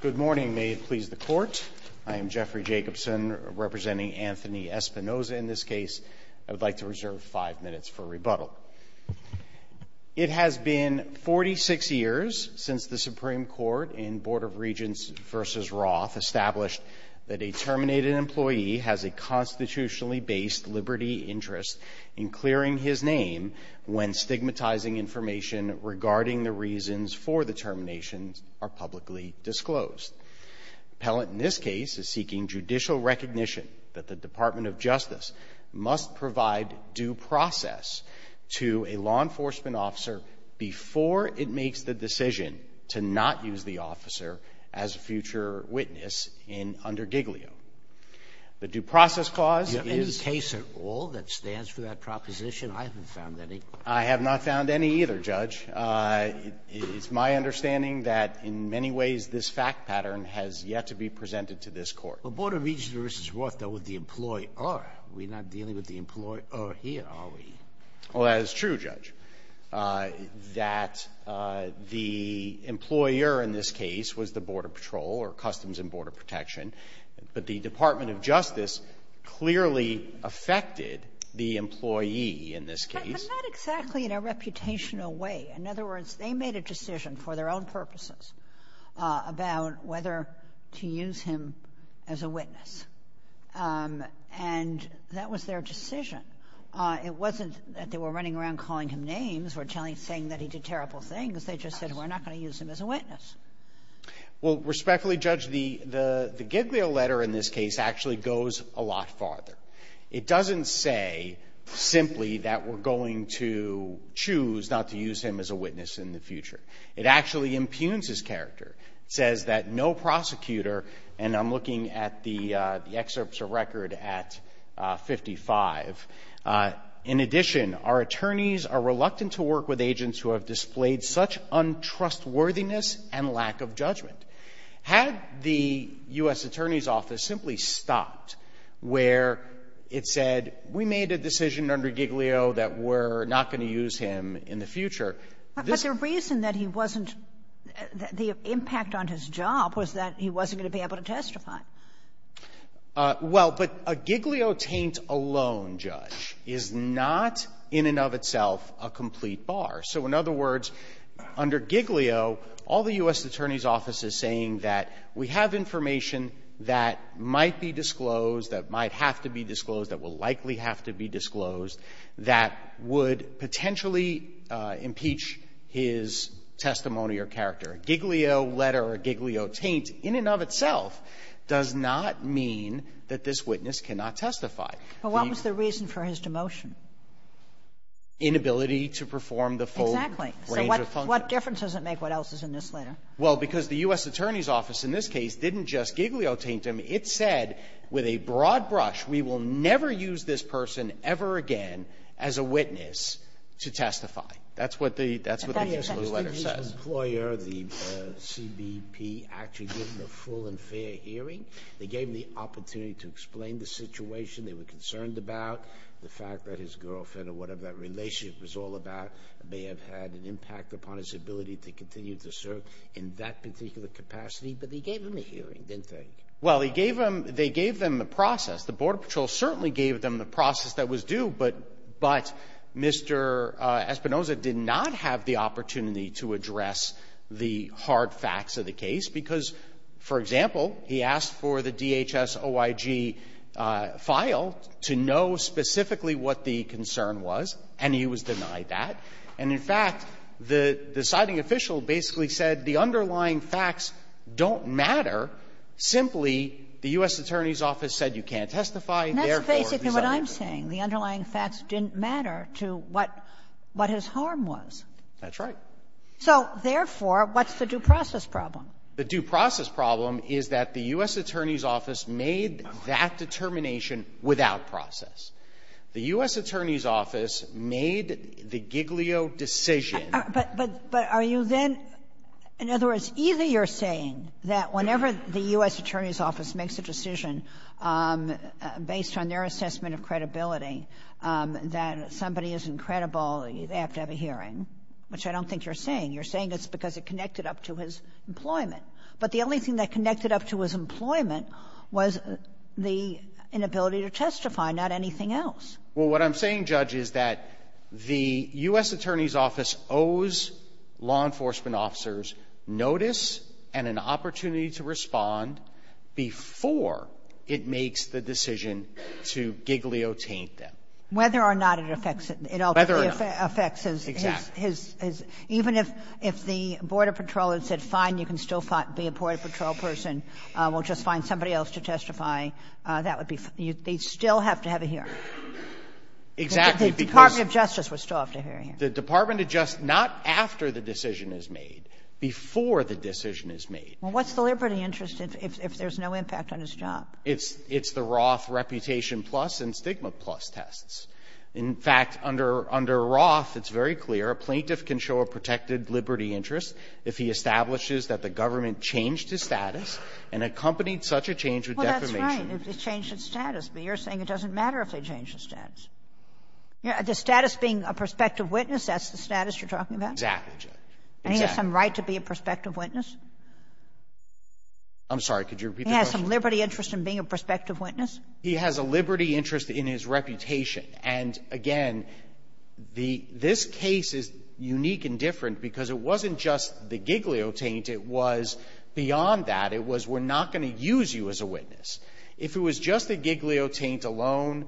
Good morning. May it please the court. I am Jeffrey Jacobson, representing Anthony Espinosa in this case. I would like to reserve five minutes for rebuttal. It has been 46 years since the Supreme Court and Board of Regents v. Roth established that a terminated employee has a constitutionally-based liberty interest in clearing his name when stigmatizing information regarding the reasons for the terminations are publicly disclosed. Appellant in this case is seeking judicial recognition that the Department of Justice must provide due process to a law enforcement officer before it makes the decision to not use the officer as a future witness under Giglio. The due process clause is — Sotomayor You have any case at all that stands for that proposition? I haven't found any. Jacobson I have not found any either, Judge. It's my understanding that in many ways this fact pattern has yet to be presented to this Court. Sotomayor Well, Board of Regents v. Roth dealt with the employee-er. We're not dealing with the employee-er here, are we? Jacobson Well, that is true, Judge, that the employer in this case was the Border Patrol or Customs and Border Protection, but the Department of Justice clearly affected the employee in this case. Sotomayor But not exactly in a reputational way. In other words, they made a decision for their own purposes about whether to use him as a witness, and that was their decision. It wasn't that they were running around calling him names or saying that he did terrible things. They just said, we're not going to use him as a witness. Jacobson Well, respectfully, Judge, the Giglio letter in this case actually goes a lot farther. It doesn't say simply that we're going to choose not to use him as a witness in the future. It actually impugns his character. It says that no prosecutor, and I'm looking at the excerpts of record at 55. In addition, our attorneys are reluctant to work with agents who have displayed such untrustworthiness and lack of judgment. Had the U.S. Attorney's Office simply stopped where it said, we made a decision under Giglio that we're not going to use him in the future, this ---- Kagan But the reason that he wasn't the impact on his job was that he wasn't going to be able to testify. Jacobson Well, but a Giglio taint alone, Judge, is not in and of itself a complete bar. So in other words, under Giglio, all the U.S. Attorney's Office is saying that we have information that might be disclosed, that might have to be disclosed, that will likely have to be disclosed, that would potentially impeach his testimony or character. A Giglio letter or a Giglio taint in and of itself does not mean that this witness cannot testify. Kagan But what was the reason for his demotion? Jacobson Inability to perform the full range of functions. Kagan Exactly. So what difference does it make what else is in this letter? Jacobson Well, because the U.S. Attorney's Office in this case didn't just Giglio never used this person ever again as a witness to testify. That's what the ---- Kagan That's what the Giglio letter says. Sotomayor I think his employer, the CBP, actually given a full and fair hearing. They gave him the opportunity to explain the situation they were concerned about, the fact that his girlfriend or whatever that relationship was all about may have had an impact upon his ability to continue to serve in that particular capacity. But they gave him a hearing, didn't they? Jacobson Well, he gave them the process. The Border Patrol certainly gave them the process that was due, but Mr. Espinoza did not have the opportunity to address the hard facts of the case because, for example, he asked for the DHS-OIG file to know specifically what the concern was, and he was denied that. And in fact, the deciding official basically said the underlying facts don't matter. Simply, the U.S. Attorney's Office said you can't testify, therefore, he's not going to do it. Kagan That's basically what I'm saying. The underlying facts didn't matter to what his harm was. Jacobson That's right. Kagan So therefore, what's the due process problem? Jacobson The due process problem is that the U.S. Attorney's Office made that determination without process. The U.S. Attorney's Office made the Giglio decision. Kagan But are you then — in other words, either you're saying that whenever the U.S. Attorney's Office makes a decision based on their assessment of credibility that somebody isn't credible, they have to have a hearing, which I don't think you're saying. You're saying it's because it connected up to his employment. But the only thing that connected up to his employment was the inability to testify, not anything else. Jacobson Well, what I'm saying, Judge, is that the U.S. Attorney's Office owes law enforcement officers notice and an opportunity to respond before it makes the decision to Giglio taint them. Kagan Whether or not it affects it. Jacobson Whether or not. Kagan It ultimately affects his — Jacobson Exactly. Kagan Even if the Border Patrol had said, fine, you can still be a Border Patrol person, we'll just find somebody else to testify, that would be — they'd still have to have a hearing. Jacobson Exactly, because — Kagan The Department of Justice would still have to have a hearing. Jacobson The Department adjusts not after the decision is made, before the decision is made. Kagan Well, what's the liberty interest if there's no impact on his job? Jacobson It's the Roth reputation plus and stigma plus tests. In fact, under Roth, it's very clear a plaintiff can show a protected liberty interest if he establishes that the government changed his status and accompanied such a change with defamation. Kagan Right, if they changed his status. But you're saying it doesn't matter if they changed his status. The status being a prospective witness, that's the status you're talking about? Jacobson Exactly, Judge. Kagan And he has some right to be a prospective witness? Jacobson I'm sorry. Could you repeat the question? Kagan He has some liberty interest in being a prospective witness? Jacobson He has a liberty interest in his reputation. And, again, the — this case is unique and different because it wasn't just the Giglio taint. It was, beyond that, it was, we're not going to use you as a witness. If it was just a Giglio taint alone,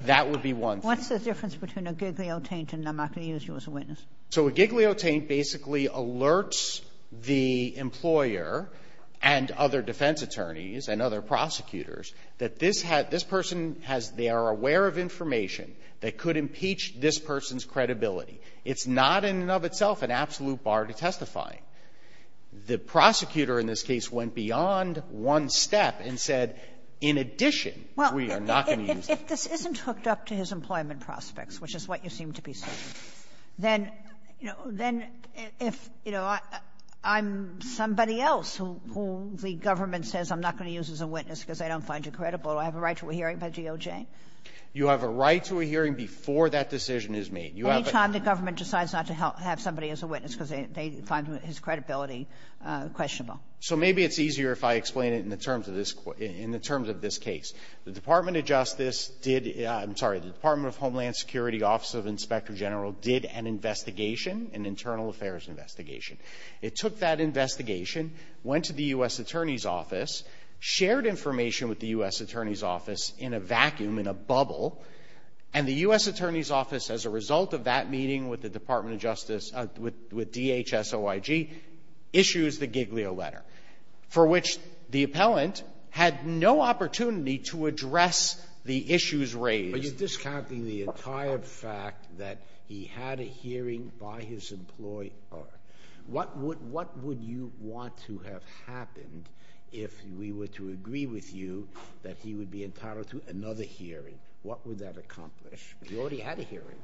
that would be one thing. Kagan What's the difference between a Giglio taint and I'm not going to use you as a witness? Jacobson So a Giglio taint basically alerts the employer and other defense attorneys and other prosecutors that this had — this person has — they are aware of information that could impeach this person's credibility. It's not in and of itself an absolute bar to testifying. The prosecutor in this case went beyond one step and said, in addition, we are not going to use you. Kagan Well, if this isn't hooked up to his employment prospects, which is what you seem to be saying, then, you know, then if, you know, I'm somebody else who the government says I'm not going to use as a witness because I don't find you credible, do I have a right to a hearing by DOJ? Jacobson You have a right to a hearing before that decision is made. Kagan Any time the government decides not to have somebody as a witness because they find his credibility questionable. Jacobson So maybe it's easier if I explain it in the terms of this — in the terms of this case. The Department of Justice did — I'm sorry, the Department of Homeland Security Office of Inspector General did an investigation, an internal affairs investigation. It took that investigation, went to the U.S. Attorney's Office, shared information with the U.S. Attorney's Office in a vacuum, in a bubble, and the U.S. Attorney's Office, as a result of that meeting with the Department of Justice, with DHS-OIG, issues the Giglio letter, for which the appellant had no opportunity to address the issues raised. Sotomayor But you're discounting the entire fact that he had a hearing by his employer. What would — what would you want to have happened if we were to agree with you that he would be entitled to another hearing? What would that accomplish? You already had a hearing. Jacobson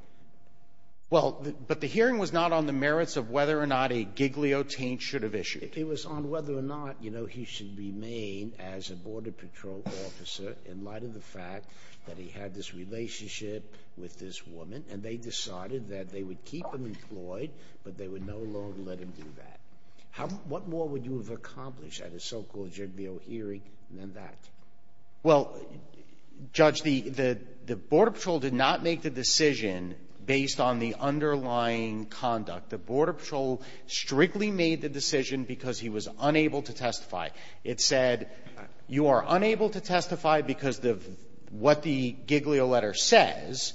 Well, but the hearing was not on the merits of whether or not a Giglio taint should have issued. Sotomayor It was on whether or not, you know, he should remain as a Border Patrol officer in light of the fact that he had this relationship with this woman, and they decided that they would keep him employed, but they would no longer let him do that. How — what more would you have accomplished at a so-called Giglio hearing than that? Jacobson Judge, the Border Patrol did not make the decision based on the underlying conduct. The Border Patrol strictly made the decision because he was unable to testify. It said, you are unable to testify because of what the Giglio letter says,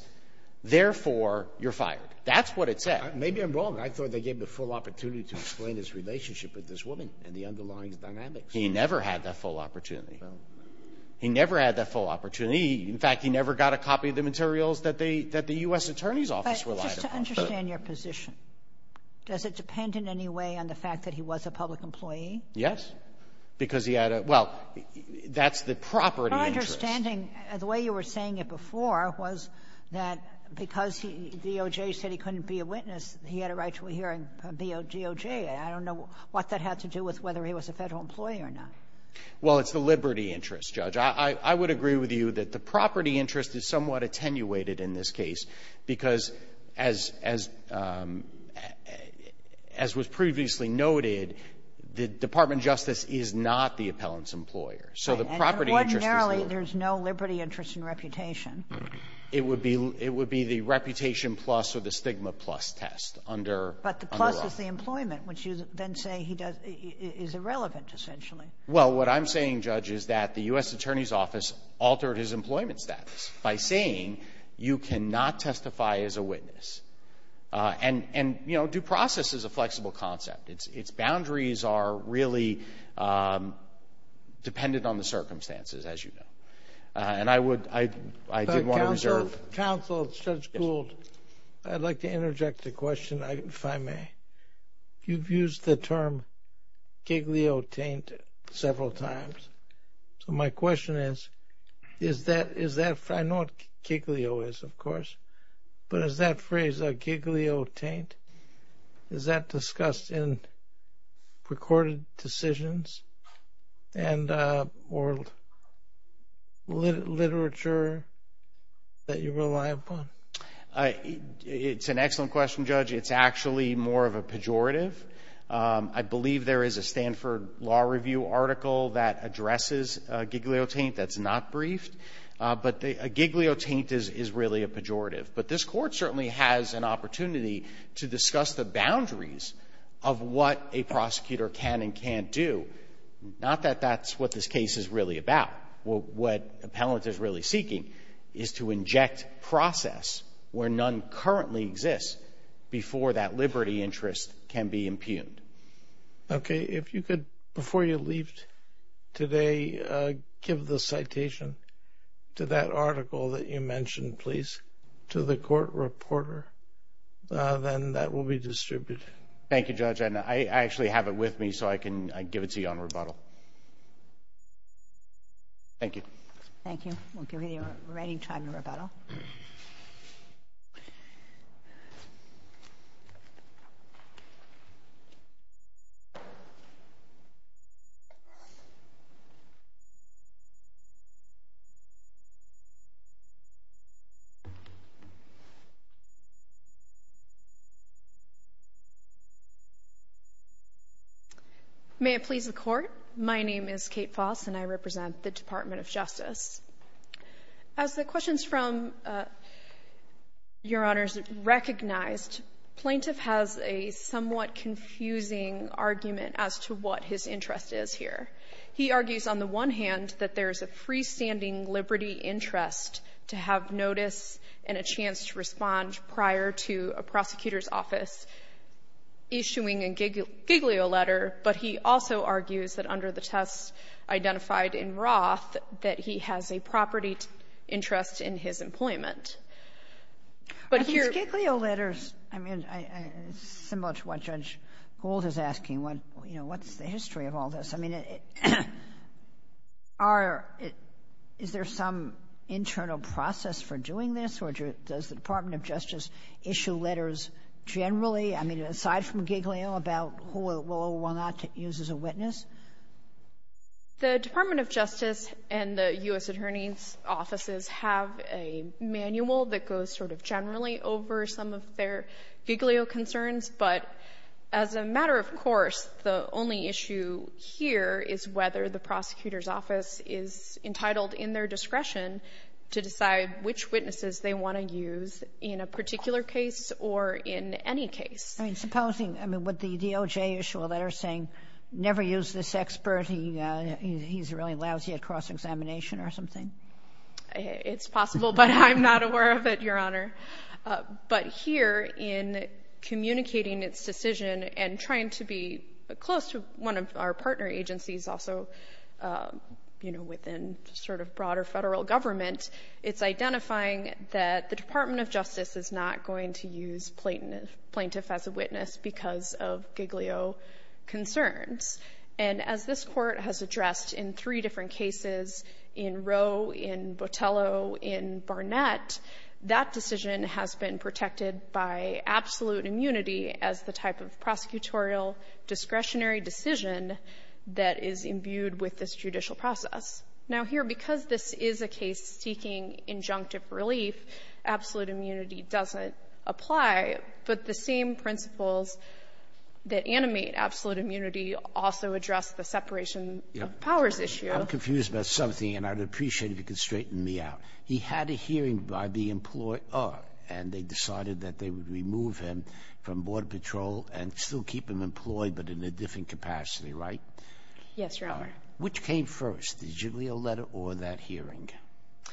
therefore, you're fired. That's what it said. Sotomayor Maybe I'm wrong. I thought they gave him the full opportunity to explain his relationship with this woman and the underlying dynamics. Jacobson He never had that full opportunity. Sotomayor No. Jacobson In fact, he never got a copy of the materials that they — that the U.S. Attorney's Office relied upon. Kagan But just to understand your position, does it depend in any way on the fact that he was a public employee? Jacobson Yes, because he had a — well, that's the property interest. Kagan But my understanding, the way you were saying it before, was that because he — DOJ said he couldn't be a witness, he had a right to a hearing from DOJ. I don't know what that had to do with whether he was a Federal employee or not. Jacobson Well, it's the liberty interest, Judge. I would agree with you that the property interest is somewhat attenuated in this case because as — as was previously noted, the Department of Justice is not the appellant's employer. So the property interest is not the — Kagan And ordinarily, there's no liberty interest in reputation. Jacobson It would be — it would be the reputation plus or the stigma plus test under — Kagan But the plus is the employment, which you then say he does — is irrelevant, essentially. Jacobson Well, what I'm saying, Judge, is that the U.S. Attorney's Office altered his employment status by saying you cannot testify as a witness. And — and, you know, due process is a flexible concept. Its — its boundaries are really dependent on the circumstances, as you know. And I would — I didn't want to reserve — Kennedy But counsel — counsel, Judge Gould, I'd like to interject a question, if I may. You've used the term giglio taint several times. So my question is, is that — is that — I know what giglio is, of course, but is that phrase a giglio taint? Is that discussed in recorded decisions and — or literature that you rely upon? Jacobson It's an excellent question, Judge. It's actually more of a pejorative. I believe there is a Stanford Law Review article that addresses a giglio taint that's not briefed, but a giglio taint is — is really a pejorative. But this Court certainly has an opportunity to discuss the boundaries of what a prosecutor can and can't do, not that that's what this case is really about. What — what appellant is really seeking is to inject process where none currently exists before that liberty interest can be impugned. Kennedy Okay. If you could, before you leave today, give the citation to that article that you mentioned, please, to the court reporter, then that will be distributed. Jacobson Thank you, Judge. And I actually have it with me so I can give it to you on rebuttal. Thank you. Kagan Thank you. We'll give you the remaining time to rebuttal. Kate Foss May I please the Court? My name is Kate Foss and I represent the Department of Justice. As the questions from Your Honors recognized, plaintiff has a somewhat confusing argument as to what his interest is here. He argues on the one hand that there is a freestanding liberty interest to have notice and a chance to respond prior to a prosecutor's office issuing a giglio letter, but he also argues that under the tests identified in Roth that he has a property interest in his employment. But here — Kagan I think his giglio letters, I mean, it's similar to what Judge Gould is asking. You know, what's the history of all this? I mean, are — is there some internal process for doing this, or does the Department of Justice issue letters generally? I mean, aside from giglio, about who it will or will not use as a witness? Kate Foss The Department of Justice and the U.S. Attorney's offices have a manual that goes sort of generally over some of their giglio concerns, but as a matter of course, the only issue here is whether the prosecutor's office is entitled in their discretion to decide which witnesses they want to use in a particular case or in any case. Kagan I mean, supposing — I mean, would the DOJ issue a letter saying, never use this expert, he's a really lousy at cross-examination or something? Kate Foss It's possible, but I'm not aware of it, Your Honor. But here, in communicating its decision and trying to be close to one of our partner agencies also, you know, within sort of broader federal government, it's identifying that the Department of Justice is not going to use plaintiff as a witness because of giglio concerns. And as this Court has addressed in three different cases, in Roe, in Botello, in Barnett, that decision has been protected by absolute immunity as the type of prosecutorial discretionary decision that is imbued with this judicial process. Now here, because this is a case seeking injunctive relief, absolute immunity doesn't apply, but the same principles that animate absolute immunity also address the separation of powers issue. Sotomayor I'm confused about something, and I'd appreciate if you could straighten me out. He had a hearing by the employer, and they decided that they would remove him from Border Patrol and still keep him employed, but in a different capacity, right? Kate Foss Yes, Your Honor. Sotomayor Which came first, the giglio letter or that hearing? Kate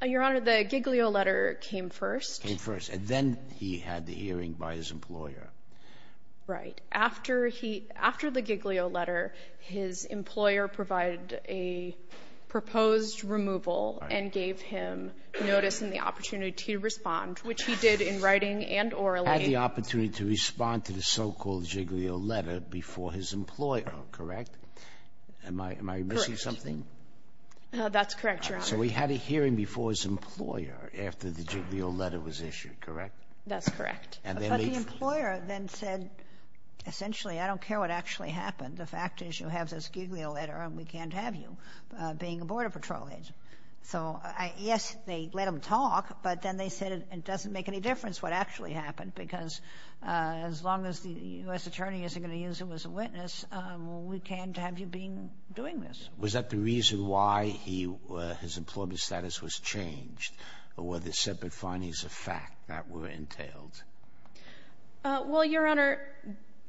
Foss Your Honor, the giglio letter came first. Sotomayor Came first, and then he had the hearing by his employer. Kate Foss Right. After he, after the giglio letter, his employer provided a proposed removal and gave him notice and the opportunity to respond, which he did in writing and orally. Sotomayor Had the opportunity to respond to the so-called Sotomayor Am I, am I missing something? Kate Foss That's correct, Your Honor. Sotomayor So we had a hearing before his employer after the giglio letter was issued, correct? Kate Foss That's correct. Sotomayor And then they... Kate Foss But the employer then said, essentially, I don't care what actually happened. The fact is you have this giglio letter and we can't have you being a Border Patrol agent. So I, yes, they let him talk, but then they said it doesn't make any difference what actually happened because as long as the U.S. Attorney isn't going to use him as a witness, we can't have you being, doing this. Sotomayor Was that the reason why he, his employment status was changed, or were there separate findings of fact that were entailed? Kate Foss Well, Your Honor,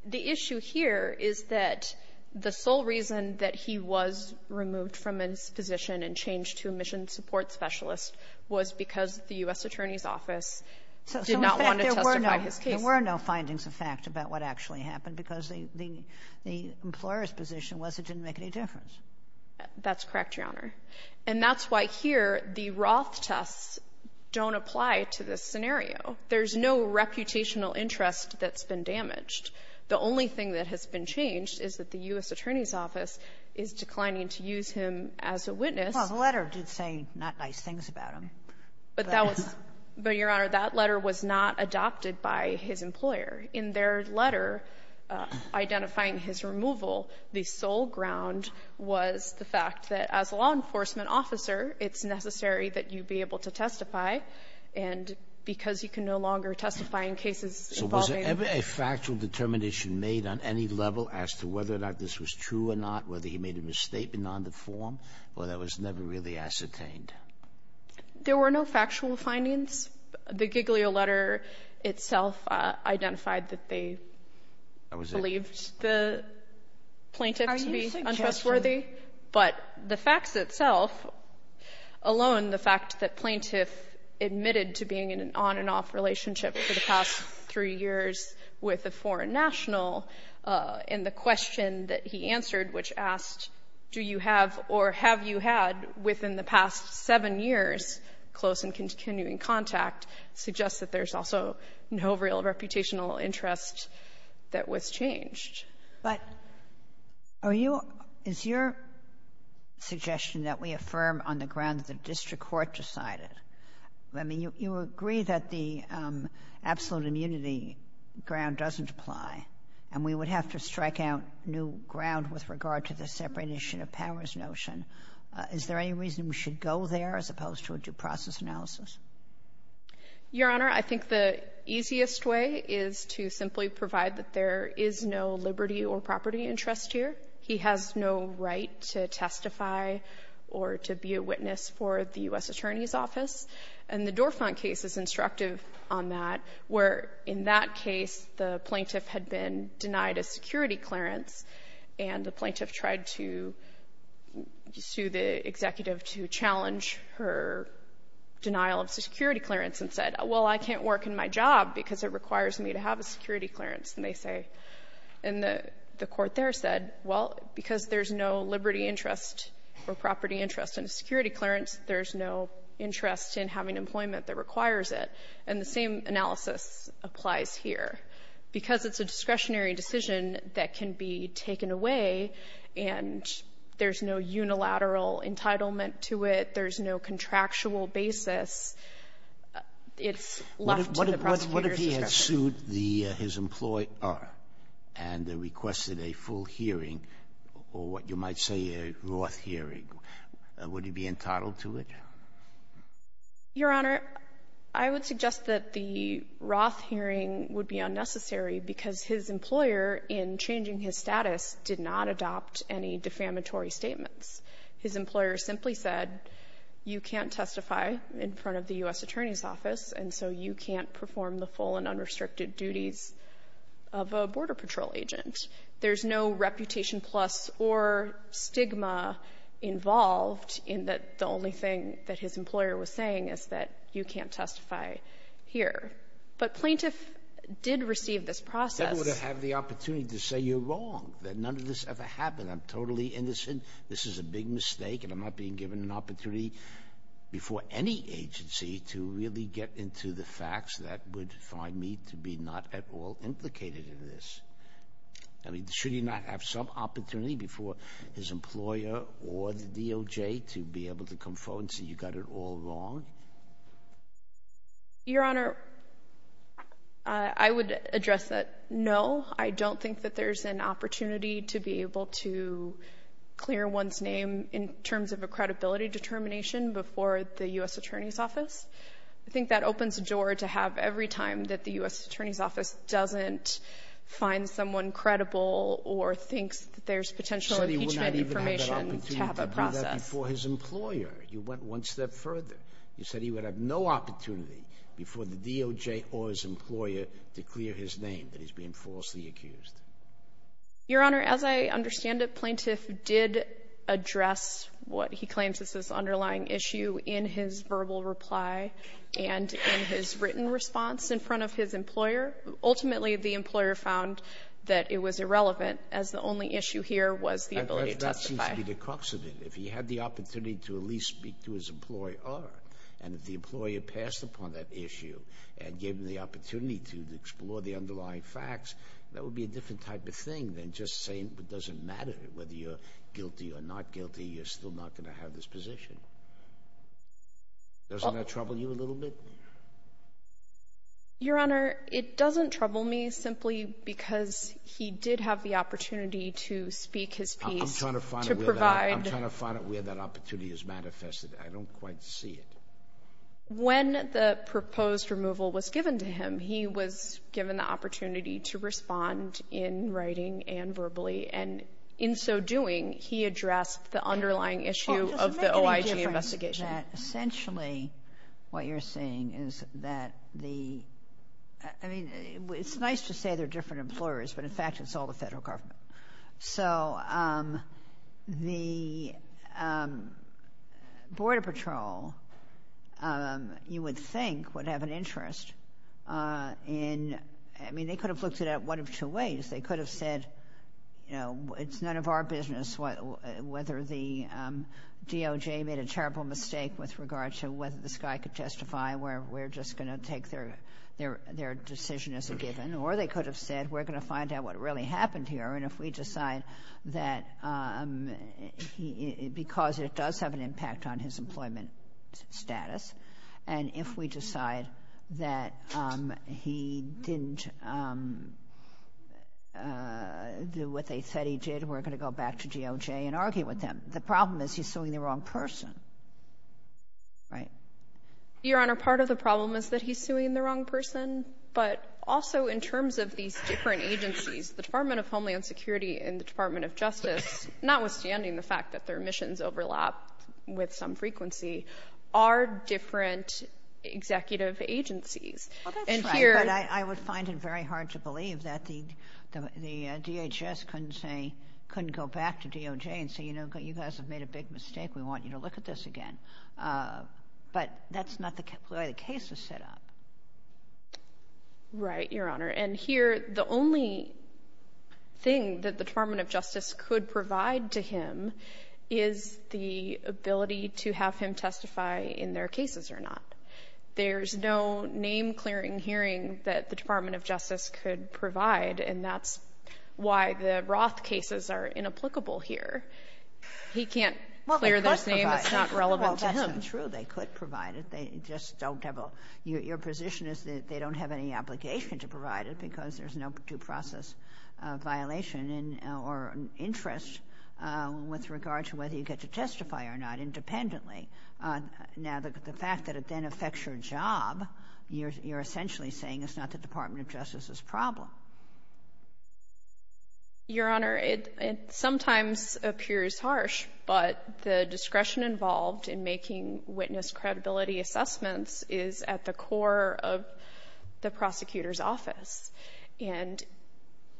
the issue here is that the sole reason that he was removed from his position and changed to a mission support specialist was because the U.S. Attorney's office did not want to testify to his case. Sotomayor So in fact, there were no findings of fact about what actually happened because the, the, the employer's position was it didn't make any difference. Kate Foss That's correct, Your Honor. And that's why here the Roth tests don't apply to this scenario. There's no reputational interest that's been damaged. The only thing that has been changed is that the U.S. Attorney's office is declining to use him as a witness. Sotomayor Well, the letter did say not nice things about him. Kate Foss But that was, but, Your Honor, that letter was not adopted by his employer. In their letter identifying his removal, the sole ground was the fact that as a law enforcement officer, it's necessary that you be able to testify, and because you can be able to testify. Sotomayor So was there ever a factual determination made on any level as to whether or not this was true or not, whether he made a misstatement on the form, or that was never really ascertained? Kate Foss There were no factual findings. The Giglio letter itself identified that they believed the plaintiff to be untrustworthy. But the facts itself, alone, the fact that plaintiff admitted to being in an on-and-off relationship for the past three years with a foreign national, and the question that he answered, which asked, do you have or have you had within the past seven years, close and continuing contact, suggests that there's also no real reputational interest that was changed. Ginsburg But are you — is your suggestion that we affirm on the ground that the district court decided? I mean, you agree that the absolute immunity ground doesn't apply, and we would have to strike out new ground with regard to the separation of powers notion. Is there any reason we should go there as opposed to a due process analysis? Kate Foss Your Honor, I think the easiest way is to simply provide that there is no liberty or property interest here. He has no right to testify or to be a witness for the U.S. Attorney's Office. And the Dorfman case is instructive on that, where in that case the plaintiff had been to sue the executive to challenge her denial of security clearance and said, well, I can't work in my job because it requires me to have a security clearance, and they say — and the court there said, well, because there's no liberty interest or property interest in a security clearance, there's no interest in having employment that requires it. And the same analysis applies here. Because it's a discretionary decision that can be taken away and there's no unilateral entitlement to it, there's no contractual basis, it's left to the prosecutor's discretion. Sotomayor What if he had sued the — his employer and requested a full hearing or what you might say a Roth hearing, would he be entitled to it? Your Honor, I would suggest that the Roth hearing would be unnecessary because his employer, in changing his status, did not adopt any defamatory statements. His employer simply said, you can't testify in front of the U.S. Attorney's Office, and so you can't perform the full and unrestricted duties of a Border Patrol agent. There's no reputation plus or stigma involved in that the only thing that his employer was saying is that you can't testify here. But plaintiff did receive this process. Scalia Never would have had the opportunity to say, you're wrong, that none of this ever happened, I'm totally innocent, this is a big mistake, and I'm not being given an opportunity before any agency to really get into the facts that would find me to be not at all implicated in this. I mean, should he not have some opportunity before his employer or the DOJ to be able to come forward and say, you got it all wrong? Your Honor, I would address that, no, I don't think that there's an opportunity to be able to clear one's name in terms of a credibility determination before the U.S. Attorney's Office. I think that opens the door to have every time that the U.S. Attorney's Office doesn't find someone credible or thinks that there's potential impeachment information to have a process. You said he would not even have that opportunity to do that before his employer. You went one step further. You said he would have no opportunity before the DOJ or his employer to clear his name that he's being falsely accused. Your Honor, as I understand it, plaintiff did address what he claims is this underlying issue in his verbal reply and in his written response in front of his employer. Ultimately, the employer found that it was irrelevant as the only issue here was the ability to testify. That seems to be the crux of it. If he had the opportunity to at least speak to his employer, and if the employer passed upon that issue and gave him the opportunity to explore the underlying facts, that would be a different type of thing than just saying it doesn't matter whether you're guilty or not guilty, you're still not going to have this position. Doesn't that trouble you a little bit? Your Honor, it doesn't trouble me simply because he did have the opportunity to speak his piece to provide. I'm trying to find it where that opportunity is manifested. I don't quite see it. When the proposed removal was given to him, he was given the opportunity to respond in writing and verbally. In so doing, he addressed the underlying issue of the OIG investigation. Well, it doesn't make any difference that essentially what you're saying is that the – I mean, it's nice to say they're different employers, but in fact, it's all the federal government. So the Border Patrol, you would think, would have an interest in – I mean, they could have looked at it one of two ways. They could have said, you know, it's none of our business whether the DOJ made a terrible mistake with regard to whether this guy could testify, we're just going to take their decision as a given. Or they could have said, we're going to find out what really happened here, and if we decide that – because it does have an impact on his employment status, and if we do what they said he did, we're going to go back to DOJ and argue with them. The problem is he's suing the wrong person, right? Your Honor, part of the problem is that he's suing the wrong person, but also in terms of these different agencies, the Department of Homeland Security and the Department of Justice, notwithstanding the fact that their missions overlap with some frequency, are different executive agencies. Well, that's right, but I would find it very hard to believe that the DHS couldn't say – couldn't go back to DOJ and say, you know, you guys have made a big mistake, we want you to look at this again. But that's not the way the case is set up. Right, Your Honor, and here, the only thing that the Department of Justice could provide to him is the ability to have him testify in their cases or not. There's no name-clearing hearing that the Department of Justice could provide, and that's why the Roth cases are inapplicable here. He can't clear those names. Well, they could provide it. It's not relevant to him. Well, that's not true. They could provide it. They just don't have a – your position is that they don't have any obligation to provide it because there's no due process violation in – or interest with regard to whether you get to testify or not independently. Now, the fact that it then affects your job, you're essentially saying it's not the Department of Justice's problem. Your Honor, it sometimes appears harsh, but the discretion involved in making witness credibility assessments is at the core of the prosecutor's office. And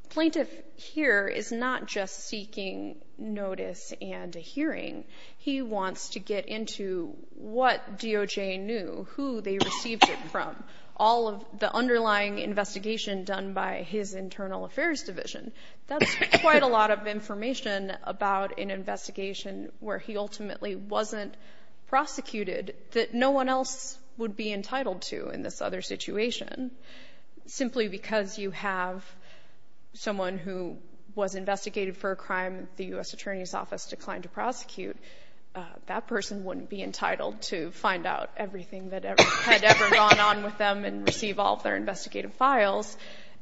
plaintiff here is not just seeking notice and a hearing. He wants to get into what DOJ knew, who they received it from, all of the underlying investigation done by his internal affairs division. That's quite a lot of information about an investigation where he ultimately wasn't prosecuted that no one else would be entitled to in this other situation. Simply because you have someone who was investigated for a crime the U.S. Attorney's Office declined to prosecute, that person wouldn't be entitled to find out everything that had ever gone on with them and receive all of their investigative files.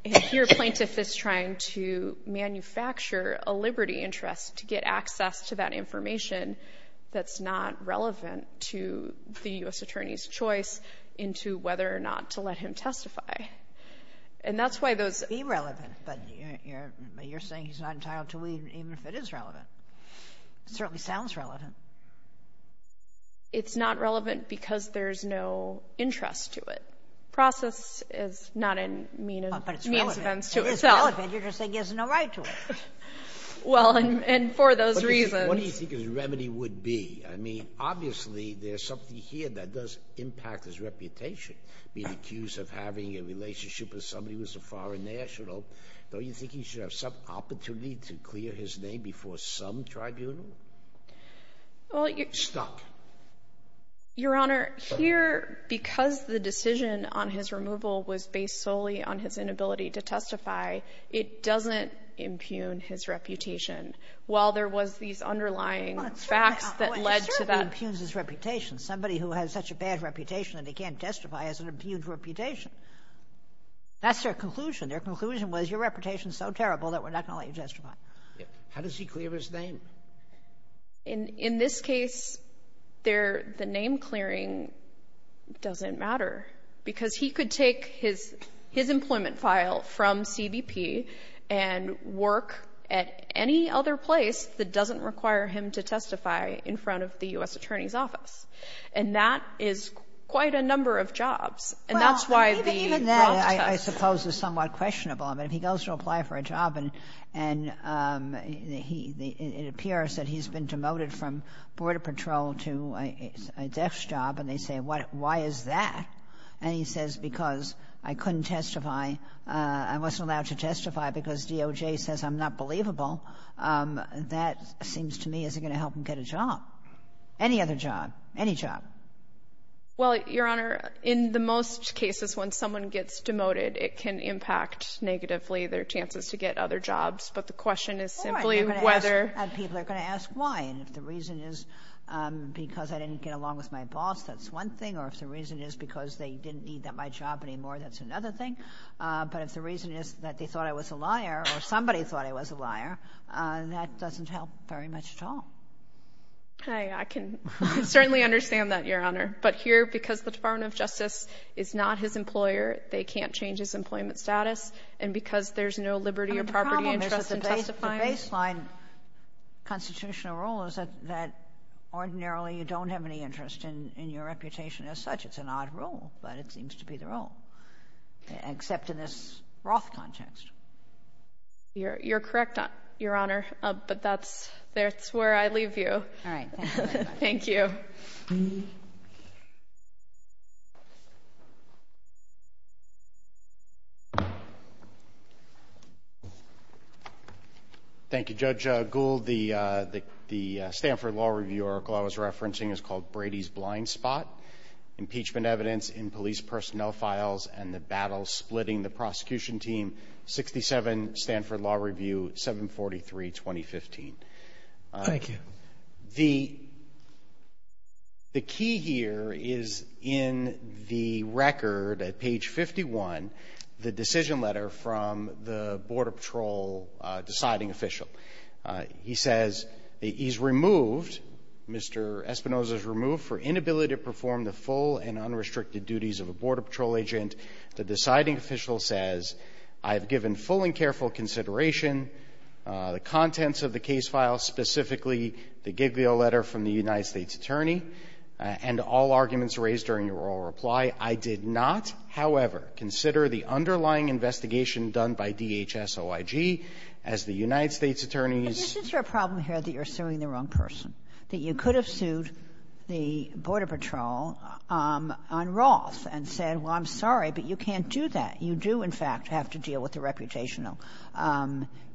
And here, plaintiff is trying to manufacture a liberty interest to get access to that information that's not relevant to the U.S. Attorney's choice into whether or not to let him testify. And that's why those – Be relevant, but you're saying he's not entitled to even if it is relevant. It certainly sounds relevant. It's not relevant because there's no interest to it. Process is not a means to itself. But it's relevant. If it's relevant, you're just saying he has no right to it. Well, and for those reasons – What do you think his remedy would be? I mean, obviously, there's something here that does impact his reputation. Being accused of having a relationship with somebody who's a foreign national, don't you think he should have some opportunity to clear his name before some tribunal? Well, your – Stop. Your Honor, here, because the decision on his removal was based solely on his inability to testify, it doesn't impugn his reputation. While there was these underlying facts that led to that – Well, it certainly impugns his reputation. Somebody who has such a bad reputation that he can't testify has an impugned reputation. That's their conclusion. Their conclusion was, your reputation is so terrible that we're not going to let you testify. How does he clear his name? In this case, the name clearing doesn't matter because he could take his employment file from CBP and work at any other place that doesn't require him to testify in front of the U.S. Attorney's Office. And that is quite a number of jobs. And that's why the – I mean, that, I suppose, is somewhat questionable. I mean, if he goes to apply for a job and he – it appears that he's been demoted from border patrol to a desk job, and they say, why is that? And he says, because I couldn't testify, I wasn't allowed to testify because DOJ says I'm not believable. That seems to me isn't going to help him get a job. Any other job. Any job. Well, Your Honor, in the most cases, when someone gets demoted, it can impact negatively their chances to get other jobs. But the question is simply whether – And people are going to ask why, and if the reason is because I didn't get along with my boss, that's one thing, or if the reason is because they didn't need my job anymore, that's another thing. But if the reason is that they thought I was a liar, or somebody thought I was a liar, that doesn't help very much at all. I can certainly understand that, Your Honor. But here, because the Department of Justice is not his employer, they can't change his employment status, and because there's no liberty or property interest in testifying – The problem is that the baseline constitutional rule is that ordinarily you don't have any interest in your reputation as such. It's an odd rule, but it seems to be the rule, except in this Roth context. You're correct, Your Honor. But that's where I leave you. All right. Thank you. Thank you, Judge Gould. The Stanford Law Review article I was referencing is called Brady's Blind Spot, Impeachment Evidence in Police Personnel Files and the Battle Splitting the Prosecution Team, 67 Stanford Law Review, 743, 2015. Thank you. The key here is in the record at page 51, the decision letter from the Border Patrol deciding official. He says he's removed, Mr. Espinoza's removed for inability to perform the full and unrestricted duties of a Border Patrol agent. The deciding official says, I've given full and careful consideration, the contents of the case file, specifically the Giglio letter from the United States attorney, and all arguments raised during your oral reply. I did not, however, consider the underlying investigation done by DHS-OIG as the United States attorney's – But isn't there a problem here that you're suing the wrong person, that you could have sued the Border Patrol on Roth and said, well, I'm sorry, but you can't do that. You do, in fact, have to deal with the reputational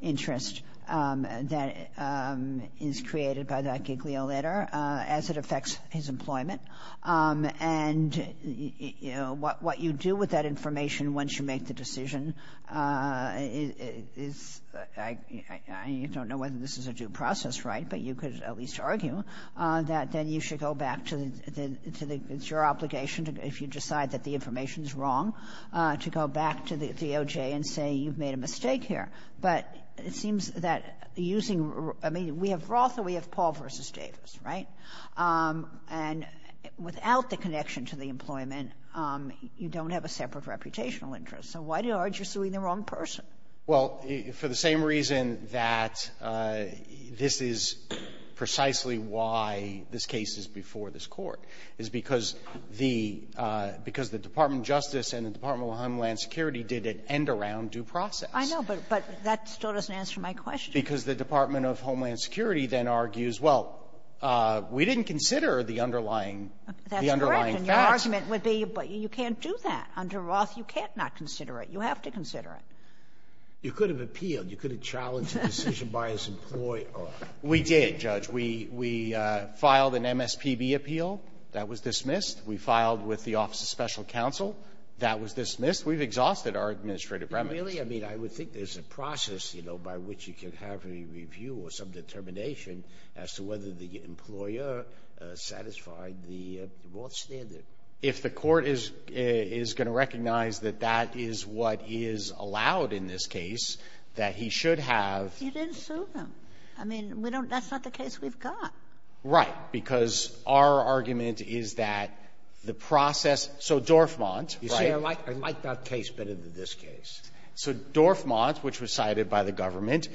interest that is created by that Giglio letter as it affects his employment. And, you know, what you do with that information once you make the decision is – I don't know whether this is a due process, right, but you could at least argue that then you should go back to the – it's your obligation if you decide that the information is wrong to go back to the DOJ and say you've made a mistake here. But it seems that using – I mean, we have Roth and we have Paul v. Davis, right? And without the connection to the employment, you don't have a separate reputational interest. So why do you argue you're suing the wrong person? Well, for the same reason that this is precisely why this case is before this Court, is because the – because the Department of Justice and the Department of Homeland Security did an end-around due process. I know, but that still doesn't answer my question. Because the Department of Homeland Security then argues, well, we didn't consider the underlying – the underlying fact. That's correct. And your argument would be, but you can't do that. Under Roth, you can't not consider it. You have to consider it. You could have appealed. You could have challenged a decision by his employer. We did, Judge. We filed an MSPB appeal. That was dismissed. We filed with the Office of Special Counsel. That was dismissed. We've exhausted our administrative premise. Really? I mean, I would think there's a process, you know, by which you can have a review or some determination as to whether the employer satisfied the Roth standard. If the Court is going to recognize that that is what is allowed in this case, that he should have – You didn't sue them. I mean, we don't – that's not the case we've got. Right. Because our argument is that the process – so Dorfmant, right – You see, I like that case better than this case. So Dorfmant, which was cited by the government,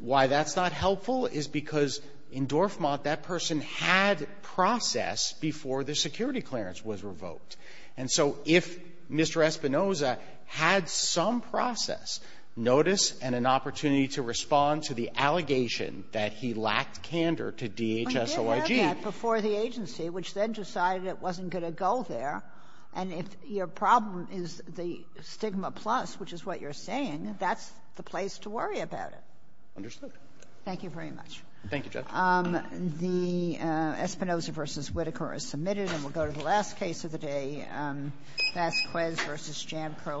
why that's not helpful is because in Dorfmant, that person had process before the security clearance was revoked. And so if Mr. Espinoza had some process, notice, and an opportunity to respond to the allegation that he lacked candor to DHSOIG – Well, he did have that before the agency, which then decided it wasn't going to go there, and if your problem is the stigma plus, which is what you're saying, that's the place to worry about it. Understood. Thank you very much. Thank you, Judge. The Espinoza v. Whitaker is submitted, and we'll go to the last case of the day, Vasquez v. Jam Crow Franchising.